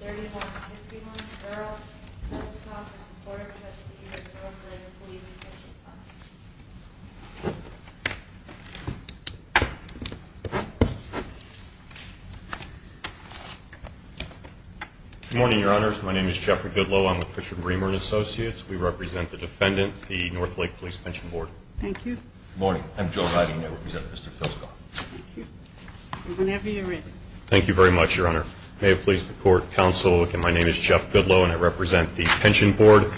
09-3151 Earl Filskov v. Board of Trustees of the Northlake Police Pension Fund Good morning, Your Honors. My name is Jeffrey Goodloe. I'm with Christian Greenberg & Associates. We represent the defendant, the Northlake Police Pension Board. Thank you. Good morning. I'm Joe Heiden. I represent Mr. Filskov. Thank you. Whenever you're ready. Thank you very much, Your Honor. May it please the Court, Counsel. My name is Jeff Goodloe, and I represent the Pension Board.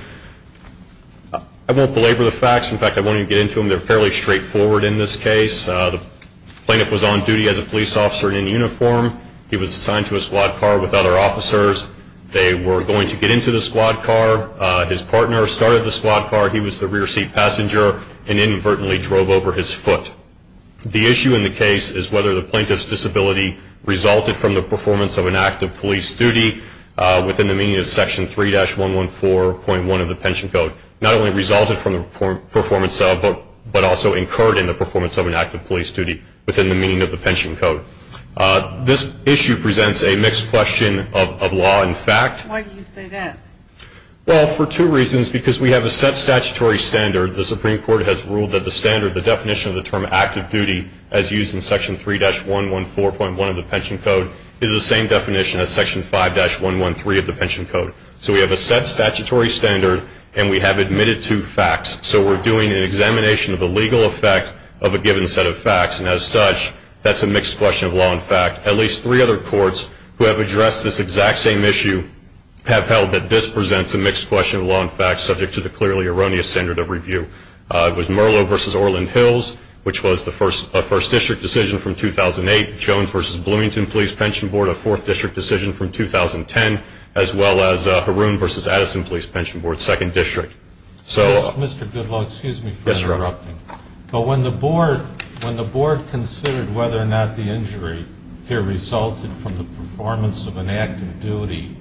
I won't belabor the facts. In fact, I won't even get into them. They're fairly straightforward in this case. The plaintiff was on duty as a police officer in uniform. He was assigned to a squad car with other officers. They were going to get into the squad car. His partner started the squad car. He was the rear seat passenger and inadvertently drove over his foot. The issue in the case is whether the plaintiff's disability resulted from the performance of an act of police duty within the meaning of Section 3-114.1 of the Pension Code. Not only resulted from the performance, but also incurred in the performance of an act of police duty within the meaning of the Pension Code. This issue presents a mixed question of law and fact. Why do you say that? Well, for two reasons. Because we have a set statutory standard. The Supreme Court has ruled that the standard, the definition of the term active duty, as used in Section 3-114.1 of the Pension Code, is the same definition as Section 5-113 of the Pension Code. So we have a set statutory standard, and we have admitted to facts. So we're doing an examination of the legal effect of a given set of facts. And as such, that's a mixed question of law and fact. At least three other courts who have addressed this exact same issue have held that this presents a mixed question of law and fact subject to the clearly erroneous standard of review. It was Merlo v. Orland Hills, which was a First District decision from 2008, Jones v. Bloomington Police Pension Board, a Fourth District decision from 2010, as well as Haroon v. Addison Police Pension Board, Second District. Mr. Goodlaw, excuse me for interrupting. Yes, sir. But when the board considered whether or not the injury here resulted from the performance of an active duty,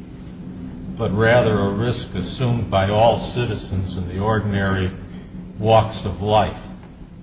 but rather a risk assumed by all citizens in the ordinary walks of life,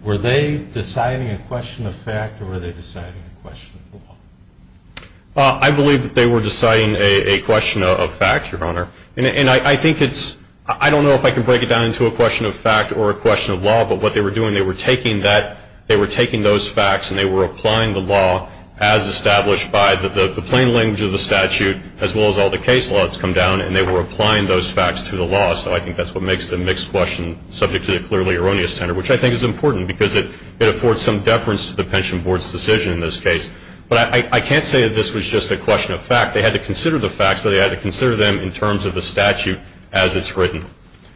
were they deciding a question of fact or were they deciding a question of law? I believe that they were deciding a question of fact, Your Honor. And I think it's – I don't know if I can break it down into a question of fact or a question of law, but what they were doing, they were taking that – they were taking those facts and they were applying the law as established by the plain language of the statute, as well as all the case laws come down, and they were applying those facts to the law. So I think that's what makes it a mixed question subject to the clearly erroneous standard, which I think is important because it affords some deference to the pension board's decision in this case. But I can't say that this was just a question of fact. They had to consider the facts, but they had to consider them in terms of the statute as it's written.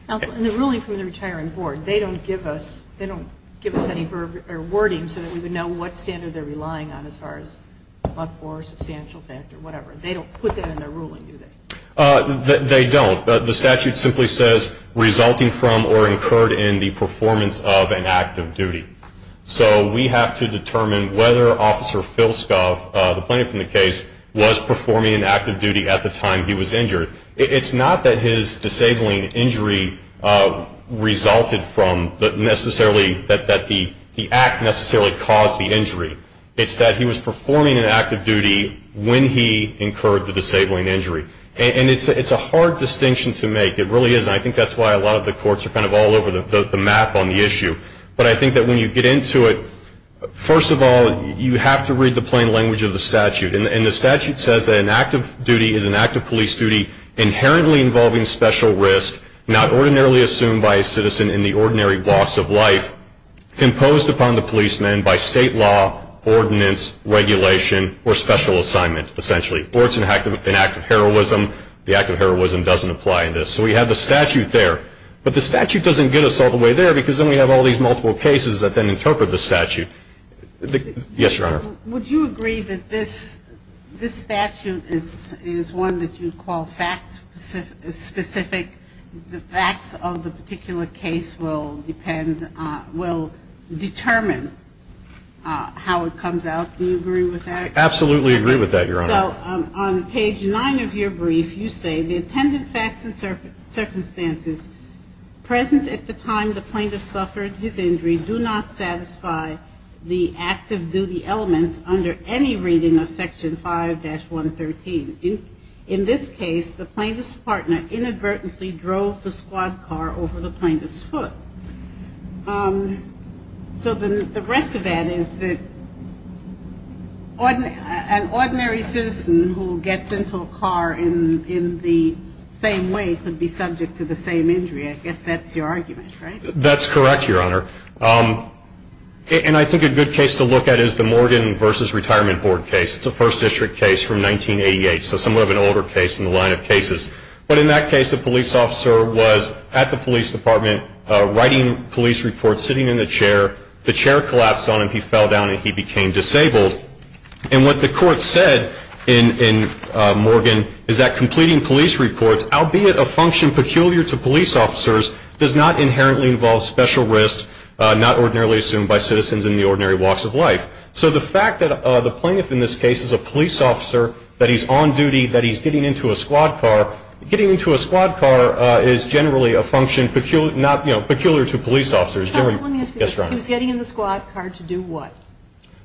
Counsel, in the ruling from the retiring board, they don't give us – they don't give us any wording so that we would know what standard they're relying on as far as a much more substantial fact or whatever. They don't put that in their ruling, do they? They don't. The statute simply says, resulting from or incurred in the performance of an act of duty. So we have to determine whether Officer Phil Skov, the plaintiff in the case, was performing an act of duty at the time he was injured. It's not that his disabling injury resulted from necessarily – that the act necessarily caused the injury. It's that he was performing an act of duty when he incurred the disabling injury. And it's a hard distinction to make. It really is. And I think that's why a lot of the courts are kind of all over the map on the issue. But I think that when you get into it, first of all, you have to read the plain language of the statute. And the statute says that an act of duty is an act of police duty inherently involving special risk, not ordinarily assumed by a citizen in the ordinary walks of life, imposed upon the policeman by state law, ordinance, regulation, or special assignment, essentially. Or it's an act of heroism. The act of heroism doesn't apply in this. So we have the statute there. But the statute doesn't get us all the way there because then we have all these multiple cases that then interpret the statute. Yes, Your Honor. Would you agree that this statute is one that you'd call fact-specific, the facts of the particular case will determine how it comes out? Do you agree with that? Absolutely agree with that, Your Honor. So on page 9 of your brief, you say, the intended facts and circumstances present at the time the plaintiff suffered his injury do not satisfy the act of duty elements under any reading of Section 5-113. In this case, the plaintiff's partner inadvertently drove the squad car over the plaintiff's foot. So the rest of that is that an ordinary citizen who gets into a car in the same way could be subject to the same injury. I guess that's your argument, right? That's correct, Your Honor. And I think a good case to look at is the Morgan v. Retirement Board case. It's a First District case from 1988, so somewhat of an older case in the line of cases. But in that case, the police officer was at the police department writing police reports, sitting in a chair. The chair collapsed on him. He fell down, and he became disabled. And what the court said in Morgan is that completing police reports, albeit a function peculiar to police officers, does not inherently involve special risks not ordinarily assumed by citizens in the ordinary walks of life. So the fact that the plaintiff in this case is a police officer, that he's on duty, that he's getting into a squad car, getting into a squad car is generally a function peculiar to police officers. Let me ask you this. He was getting in the squad car to do what?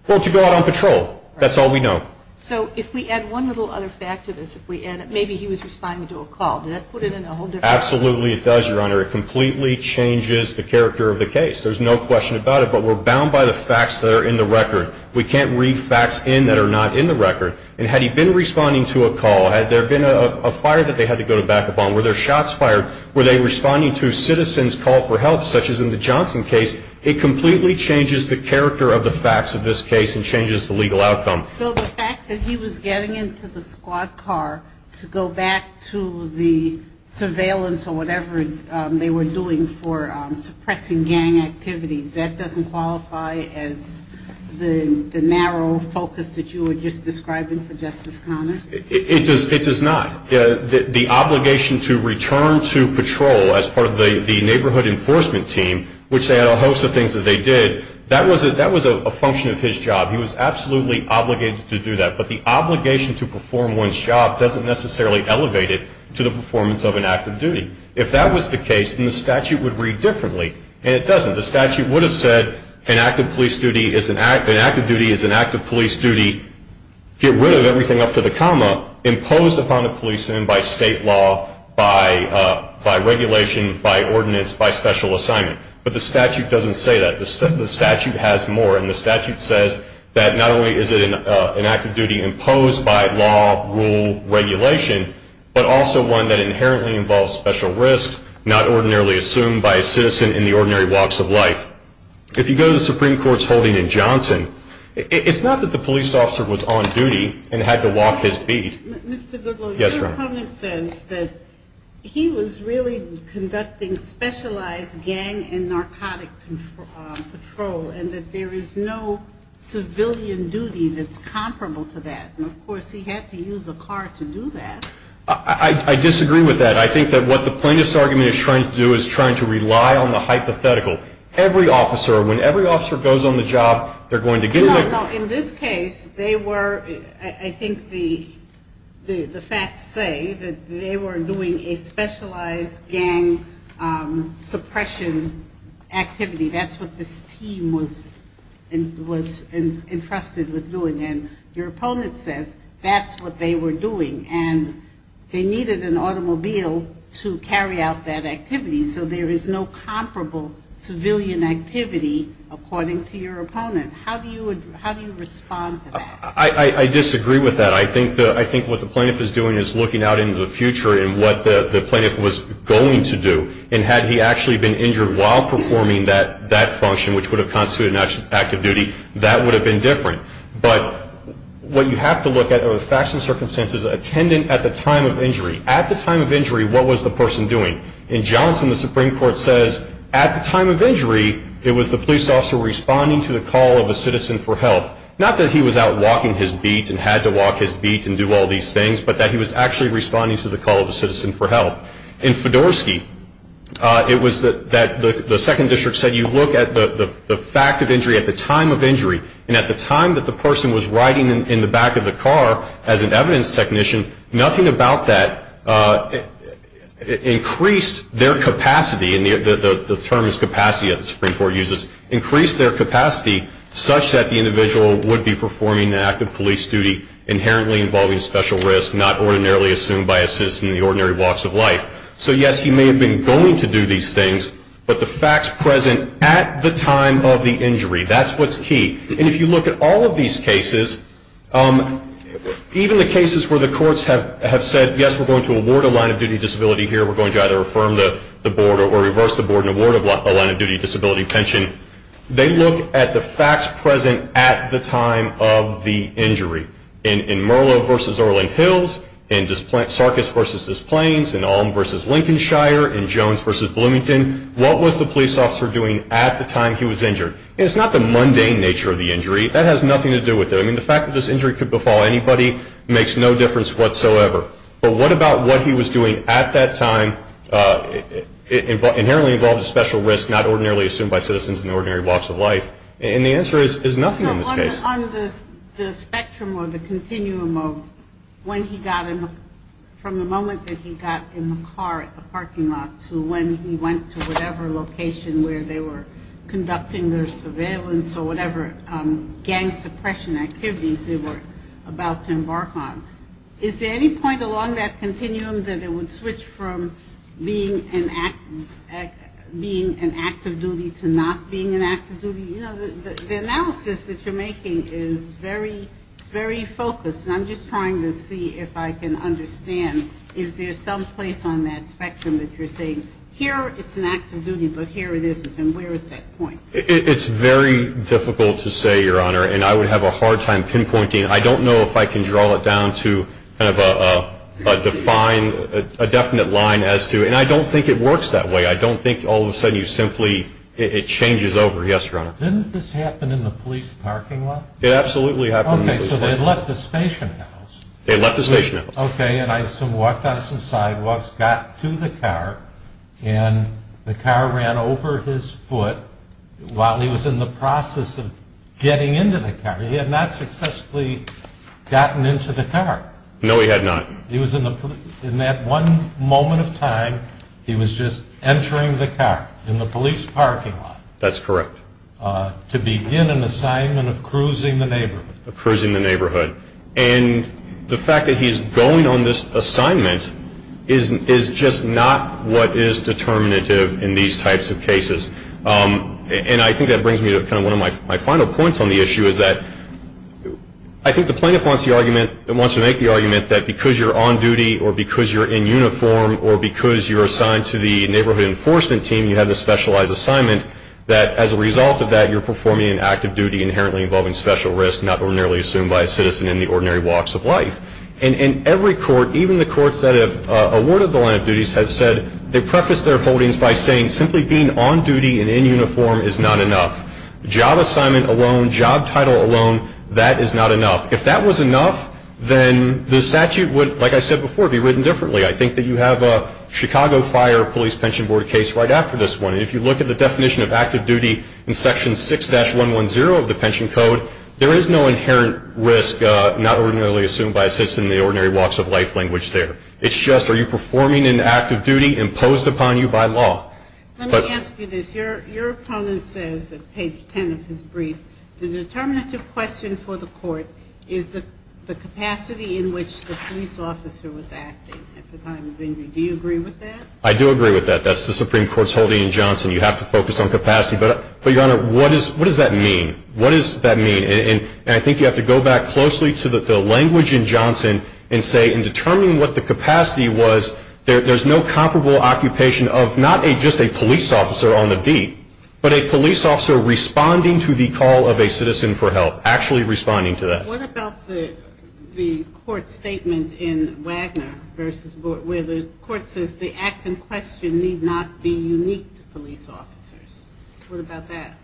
Well, to go out on patrol. That's all we know. So if we add one little other fact to this, maybe he was responding to a call. Does that put it in a whole different... Absolutely it does, Your Honor. It completely changes the character of the case. There's no question about it, but we're bound by the facts that are in the record. We can't read facts in that are not in the record. And had he been responding to a call, had there been a fire that they had to go to back up on, were there shots fired, were they responding to a citizen's call for help, such as in the Johnson case, it completely changes the character of the facts of this case and changes the legal outcome. So the fact that he was getting into the squad car to go back to the surveillance or whatever they were doing for suppressing gang activities, that doesn't qualify as the narrow focus that you were just describing for Justice Connors? It does not. The obligation to return to patrol as part of the neighborhood enforcement team, which they had a host of things that they did, that was a function of his job. He was absolutely obligated to do that. But the obligation to perform one's job doesn't necessarily elevate it to the performance of an act of duty. If that was the case, then the statute would read differently, and it doesn't. The statute would have said an act of duty is an act of police duty, get rid of everything up to the comma, imposed upon a policeman by state law, by regulation, by ordinance, by special assignment. But the statute doesn't say that. The statute has more, and the statute says that not only is it an act of duty imposed by law, rule, regulation, but also one that inherently involves special risks, not ordinarily assumed by a citizen in the ordinary walks of life. If you go to the Supreme Court's holding in Johnson, it's not that the police officer was on duty and had to walk his beat. Mr. Goodwin, your comment says that he was really conducting specialized gang and narcotic patrol, and that there is no civilian duty that's comparable to that. And, of course, he had to use a car to do that. I disagree with that. I think that what the plaintiff's argument is trying to do is trying to rely on the hypothetical. Every officer, when every officer goes on the job, they're going to get in there. No, no. In this case, they were, I think the facts say that they were doing a specialized gang suppression activity. That's what this team was entrusted with doing. And your opponent says that's what they were doing. And they needed an automobile to carry out that activity. So there is no comparable civilian activity, according to your opponent. How do you respond to that? I disagree with that. I think what the plaintiff is doing is looking out into the future and what the plaintiff was going to do. And had he actually been injured while performing that function, which would have constituted an act of duty, that would have been different. But what you have to look at are the facts and circumstances attendant at the time of injury. At the time of injury, what was the person doing? In Johnson, the Supreme Court says at the time of injury, it was the police officer responding to the call of a citizen for help. Not that he was out walking his beat and had to walk his beat and do all these things, but that he was actually responding to the call of a citizen for help. In Fedorsky, it was that the Second District said you look at the fact of injury at the time of injury. And at the time that the person was riding in the back of the car as an evidence technician, nothing about that increased their capacity, and the term is capacity that the Supreme Court uses, increased their capacity such that the individual would be performing an act of police duty, inherently involving special risk, not ordinarily assumed by a citizen in the ordinary walks of life. So, yes, he may have been going to do these things, but the facts present at the time of the injury, that's what's key. And if you look at all of these cases, even the cases where the courts have said, yes, we're going to award a line of duty disability here, we're going to either affirm the board or reverse the board and award a line of duty disability pension, they look at the facts present at the time of the injury. In Merlo v. Orland Hills, in Sarkis v. Des Plaines, in Ulm v. Lincolnshire, in Jones v. Bloomington, what was the police officer doing at the time he was injured? And it's not the mundane nature of the injury. That has nothing to do with it. I mean, the fact that this injury could befall anybody makes no difference whatsoever. But what about what he was doing at that time, inherently involved in special risk, not ordinarily assumed by citizens in the ordinary walks of life? And the answer is nothing in this case. On the spectrum or the continuum of when he got in, from the moment that he got in the car at the parking lot to when he went to whatever location where they were conducting their surveillance or whatever gang suppression activities they were about to embark on, is there any point along that continuum that it would switch from being an active duty to not being an active duty? You know, the analysis that you're making is very focused. And I'm just trying to see if I can understand, is there some place on that spectrum that you're saying, here it's an active duty, but here it isn't, and where is that point? It's very difficult to say, Your Honor, and I would have a hard time pinpointing. I don't know if I can draw it down to kind of a defined, a definite line as to, and I don't think it works that way. I don't think all of a sudden you simply, it changes over. Yes, Your Honor. It absolutely happened in the police parking lot. Okay, so they left the station house. They left the station house. Okay, and I walked down some sidewalks, got to the car, and the car ran over his foot while he was in the process of getting into the car. He had not successfully gotten into the car. No, he had not. In that one moment of time, he was just entering the car in the police parking lot. That's correct. To begin an assignment of cruising the neighborhood. And the fact that he's going on this assignment is just not what is determinative in these types of cases. And I think that brings me to kind of one of my final points on the issue is that I think the plaintiff wants the argument, wants to make the argument that because you're on duty or because you're in uniform or because you're assigned to the neighborhood enforcement team, you have this specialized assignment, that as a result of that, you're performing an act of duty inherently involving special risk not ordinarily assumed by a citizen in the ordinary walks of life. And in every court, even the courts that have awarded the line of duties, have said they preface their holdings by saying simply being on duty and in uniform is not enough. Job assignment alone, job title alone, that is not enough. If that was enough, then the statute would, like I said before, be written differently. I think that you have a Chicago Fire Police Pension Board case right after this one. And if you look at the definition of active duty in section 6-110 of the pension code, there is no inherent risk not ordinarily assumed by a citizen in the ordinary walks of life language there. It's just are you performing an act of duty imposed upon you by law. Let me ask you this. Your opponent says at page 10 of his brief, the determinative question for the court is the capacity in which the police officer was acting at the time of injury. Do you agree with that? I do agree with that. That's the Supreme Court's holding in Johnson. You have to focus on capacity. But, Your Honor, what does that mean? What does that mean? And I think you have to go back closely to the language in Johnson and say in determining what the capacity was, there's no comparable occupation of not just a police officer on the beat, but a police officer responding to the call of a citizen for help, actually responding to that. What about the court statement in Wagner where the court says the act in question need not be unique to police officers? What about that?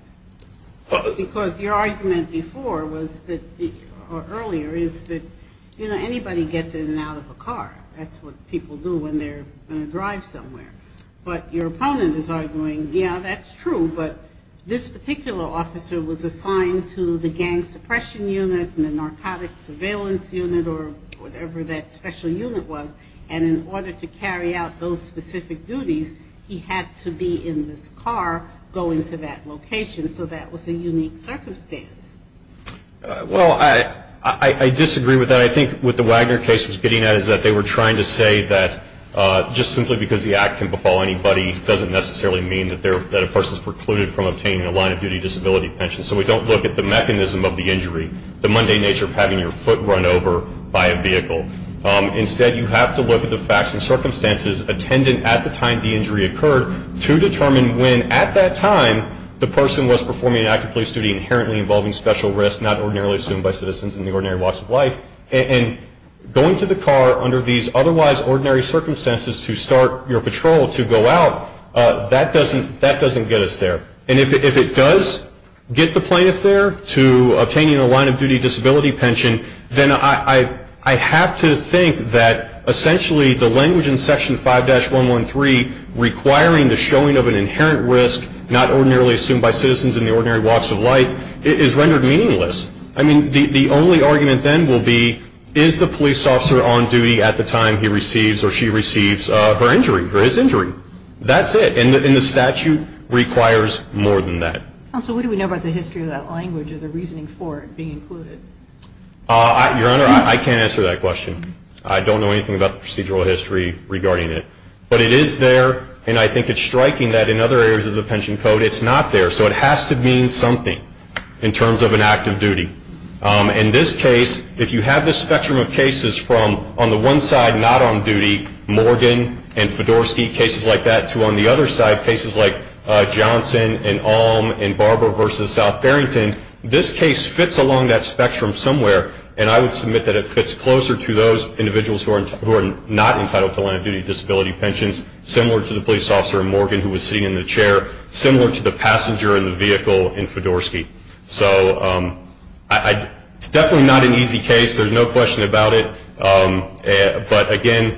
Because your argument before or earlier is that, you know, anybody gets in and out of a car. That's what people do when they're in a drive somewhere. But your opponent is arguing, yeah, that's true, but this particular officer was assigned to the gang suppression unit and the narcotics surveillance unit or whatever that special unit was. And in order to carry out those specific duties, he had to be in this car going to that location. So that was a unique circumstance. Well, I disagree with that. I think what the Wagner case was getting at is that they were trying to say that just simply because the act can befall anybody doesn't necessarily mean that a person is precluded from obtaining a line of duty disability pension. So we don't look at the mechanism of the injury, the mundane nature of having your foot run over by a vehicle. Instead, you have to look at the facts and circumstances attendant at the time the injury occurred to determine when at that time the person was performing an act of police duty inherently involving special risks not ordinarily assumed by citizens in the ordinary walks of life. And going to the car under these otherwise ordinary circumstances to start your patrol to go out, that doesn't get us there. And if it does get the plaintiff there to obtaining a line of duty disability pension, then I have to think that essentially the language in Section 5-113 requiring the showing of an inherent risk not ordinarily assumed by citizens in the ordinary walks of life is rendered meaningless. I mean, the only argument then will be is the police officer on duty at the time he receives or she receives her injury, or his injury. That's it. And the statute requires more than that. Counsel, what do we know about the history of that language or the reasoning for it being included? Your Honor, I can't answer that question. I don't know anything about the procedural history regarding it. But it is there, and I think it's striking that in other areas of the pension code it's not there. So it has to mean something in terms of an act of duty. In this case, if you have this spectrum of cases from on the one side not on duty, Morgan and Fedorsky, cases like that, to on the other side, cases like Johnson and Alm and Barber v. South Barrington, this case fits along that spectrum somewhere. And I would submit that it fits closer to those individuals who are not entitled to line of duty disability pensions, similar to the police officer in Morgan who was sitting in the chair, similar to the passenger in the vehicle in Fedorsky. So it's definitely not an easy case. There's no question about it. But, again,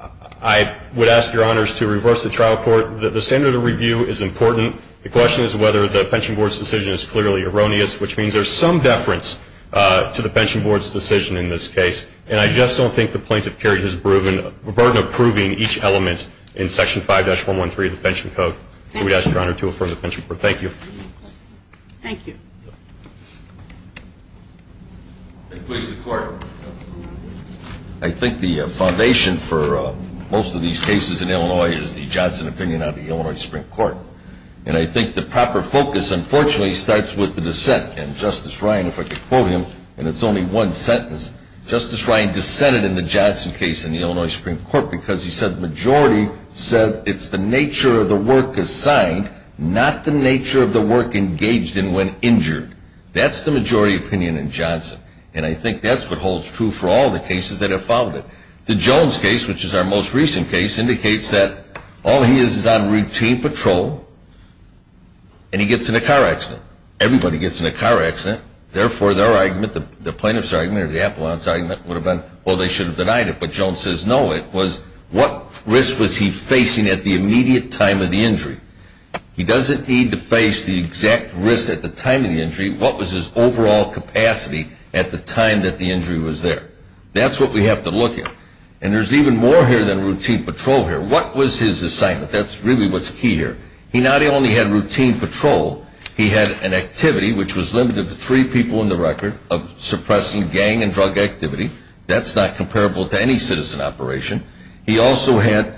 I would ask Your Honors to reverse the trial court. The standard of review is important. The question is whether the pension board's decision is clearly erroneous, which means there's some deference to the pension board's decision in this case. And I just don't think the plaintiff carried his burden of proving each element in Section 5-113 of the pension code. I would ask Your Honor to affirm the pension board. Thank you. Thank you. I think the foundation for most of these cases in Illinois is the Johnson opinion of the Illinois Supreme Court. And I think the proper focus, unfortunately, starts with the dissent. And Justice Ryan, if I could quote him, and it's only one sentence, Justice Ryan dissented in the Johnson case in the Illinois Supreme Court because he said the majority said it's the nature of the work assigned, not the nature of the work engaged in when injured. That's the majority opinion in Johnson. And I think that's what holds true for all the cases that have followed it. The Jones case, which is our most recent case, indicates that all he is is on routine patrol, and he gets in a car accident. Everybody gets in a car accident. Therefore, their argument, the plaintiff's argument or the appellant's argument would have been, well, they should have denied it, but Jones says no. It was what risk was he facing at the immediate time of the injury? He doesn't need to face the exact risk at the time of the injury. What was his overall capacity at the time that the injury was there? That's what we have to look at. And there's even more here than routine patrol here. What was his assignment? That's really what's key here. He not only had routine patrol. He had an activity, which was limited to three people on the record, of suppressing gang and drug activity. That's not comparable to any citizen operation. He also had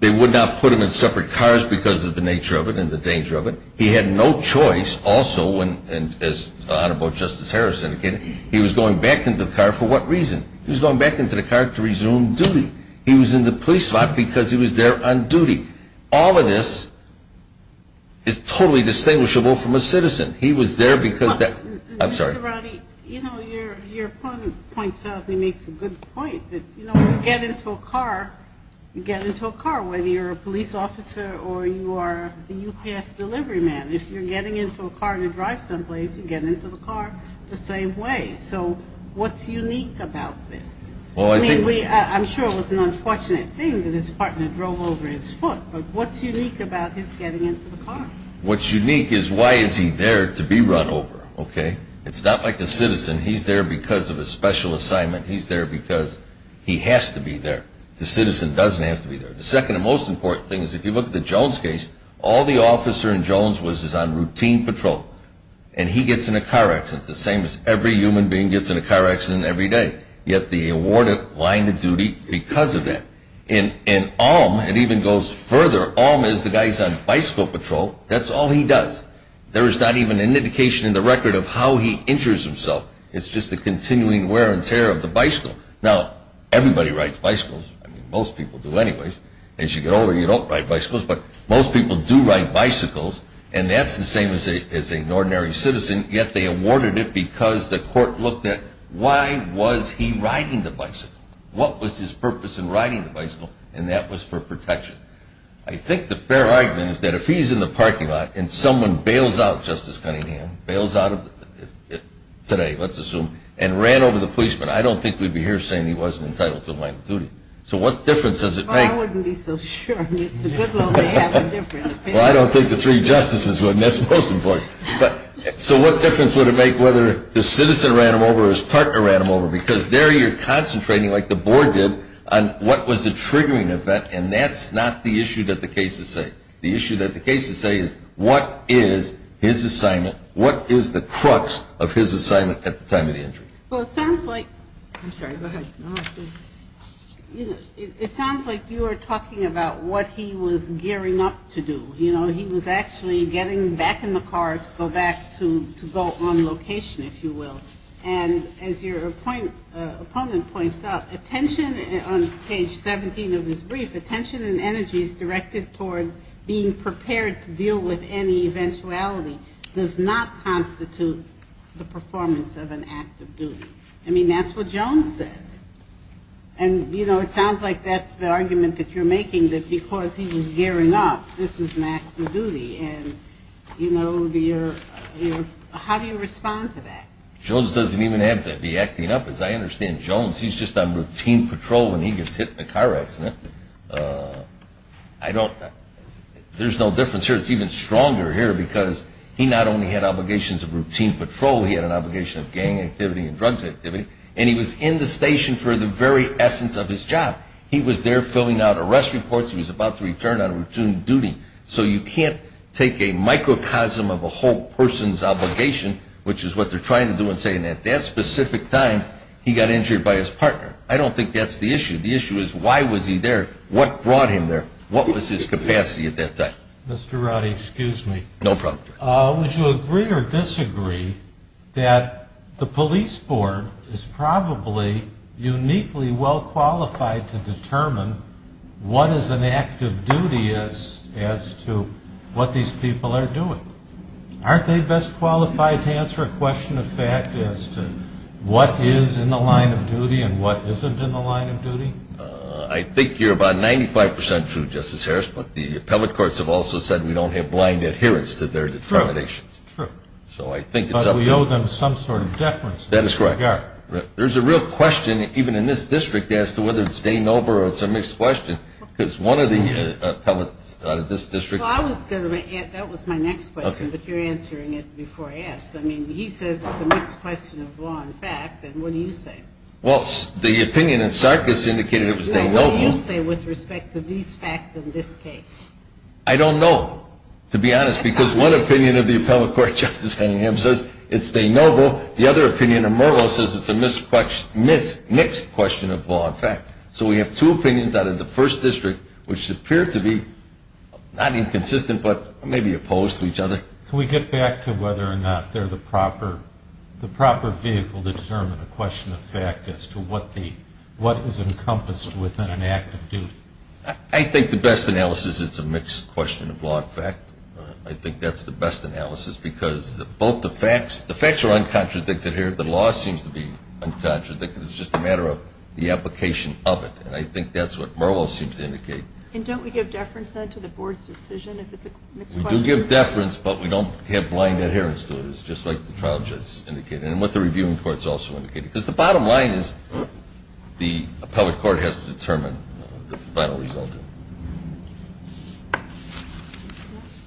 they would not put him in separate cars because of the nature of it and the danger of it. He had no choice also, and as Honorable Justice Harris indicated, he was going back into the car. For what reason? He was going back into the car to resume duty. He was in the police lot because he was there on duty. All of this is totally distinguishable from a citizen. He was there because of that. I'm sorry. Mr. Rodney, you know, your opponent points out and makes a good point that, you know, when you get into a car, you get into a car whether you're a police officer or you are a UPS delivery man. If you're getting into a car to drive someplace, you get into the car the same way. So what's unique about this? I'm sure it was an unfortunate thing that his partner drove over his foot, but what's unique about his getting into the car? What's unique is why is he there to be run over, okay? It's not like a citizen. He's there because of a special assignment. He's there because he has to be there. The citizen doesn't have to be there. The second and most important thing is if you look at the Jones case, all the officer in Jones was on routine patrol, and he gets in a car accident the same as every human being gets in a car accident every day. Yet they award him line of duty because of that. In Alm, it even goes further. Alm is the guy who's on bicycle patrol. That's all he does. There is not even an indication in the record of how he injures himself. It's just the continuing wear and tear of the bicycle. Now, everybody rides bicycles. I mean, most people do anyways. As you get older, you don't ride bicycles, but most people do ride bicycles, and that's the same as an ordinary citizen, yet they awarded it because the court looked at why was he riding the bicycle? What was his purpose in riding the bicycle? And that was for protection. I think the fair argument is that if he's in the parking lot and someone bails out Justice Cunningham, bails out of it today, let's assume, and ran over the policeman, I don't think we'd be here saying he wasn't entitled to a line of duty. So what difference does it make? Well, I wouldn't be so sure. Mr. Goodlaw may have a different opinion. Well, I don't think the three justices would, and that's most important. So what difference would it make whether the citizen ran him over or his partner ran him over? Because there you're concentrating, like the board did, on what was the triggering event, and that's not the issue that the cases say. The issue that the cases say is what is his assignment, what is the crux of his assignment at the time of the injury? Well, it sounds like you are talking about what he was gearing up to do. You know, he was actually getting back in the car to go back to go on location, if you will. And as your opponent points out, attention on page 17 of his brief, attention and energies directed toward being prepared to deal with any eventuality, does not constitute the performance of an act of duty. I mean, that's what Jones says. And, you know, it sounds like that's the argument that you're making, that because he was gearing up, this is an act of duty. And, you know, how do you respond to that? Jones doesn't even have to be acting up. As I understand, Jones, he's just on routine patrol when he gets hit in a car accident. I don't – there's no difference here. It's even stronger here because he not only had obligations of routine patrol, he had an obligation of gang activity and drugs activity, and he was in the station for the very essence of his job. He was there filling out arrest reports. He was about to return on routine duty. So you can't take a microcosm of a whole person's obligation, which is what they're trying to do in saying that that specific time he got injured by his partner. I don't think that's the issue. The issue is why was he there? What brought him there? What was his capacity at that time? Mr. Rowdy, excuse me. No problem. Would you agree or disagree that the police board is probably uniquely well-qualified to determine what is an active duty as to what these people are doing? Aren't they best qualified to answer a question of fact as to what is in the line of duty and what isn't in the line of duty? I think you're about 95 percent true, Justice Harris, but the appellate courts have also said we don't have blind adherence to their determination. True, true. So I think it's up to you. But we owe them some sort of deference. That is correct. We are. There's a real question even in this district as to whether it's de novo or it's a mixed question because one of the appellates out of this district. Well, that was my next question, but you're answering it before I ask. I mean, he says it's a mixed question of law and fact, and what do you say? Well, the opinion in Sarkis indicated it was de novo. What do you say with respect to these facts in this case? I don't know, to be honest, because one opinion of the appellate court, Justice Cunningham, says it's de novo. The other opinion of Murrow says it's a mixed question of law and fact. So we have two opinions out of the first district which appear to be not inconsistent but maybe opposed to each other. Can we get back to whether or not they're the proper vehicle to determine a question of fact as to what is encompassed within an act of duty? I think the best analysis is it's a mixed question of law and fact. I think that's the best analysis because both the facts, the facts are uncontradicted here. The law seems to be uncontradicted. It's just a matter of the application of it, and I think that's what Murrow seems to indicate. And don't we give deference, then, to the board's decision if it's a mixed question? We do give deference, but we don't have blind adherence to it. It's just like the trial judge indicated and what the reviewing court has also indicated, because the bottom line is the appellate court has to determine the final result.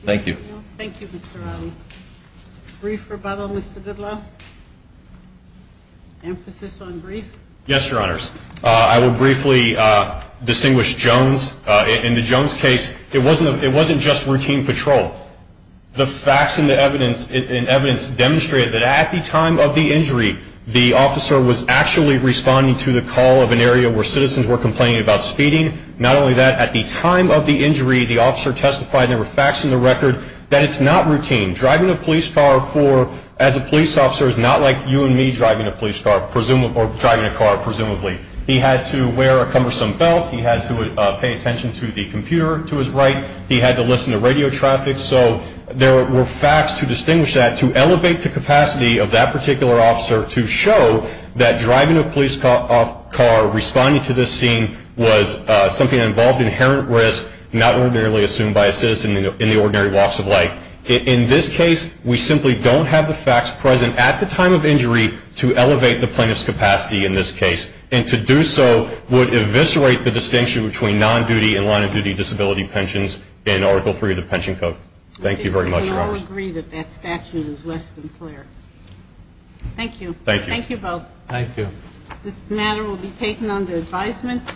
Thank you. Thank you, Mr. Riley. Brief rebuttal, Mr. Goodlaw? Emphasis on brief? Yes, Your Honors. I will briefly distinguish Jones. In the Jones case, it wasn't just routine patrol. The facts and evidence demonstrated that at the time of the injury, the officer was actually responding to the call of an area where citizens were complaining about speeding. Not only that, at the time of the injury, the officer testified, and there were facts in the record, that it's not routine. Driving a police car as a police officer is not like you and me driving a police car, or driving a car, presumably. He had to wear a cumbersome belt. He had to pay attention to the computer to his right. He had to listen to radio traffic. So there were facts to distinguish that, to elevate the capacity of that particular officer to show that driving a police car responding to this scene was something that involved inherent risk, not ordinarily assumed by a citizen in the ordinary walks of life. In this case, we simply don't have the facts present at the time of injury to elevate the plaintiff's capacity in this case, and to do so would eviscerate the distinction between non-duty and line-of-duty disability pensions in Article III of the Pension Code. Thank you very much, Your Honors. We can all agree that that statute is less than clear. Thank you. Thank you. Thank you both. Thank you. This matter will be taken under advisement.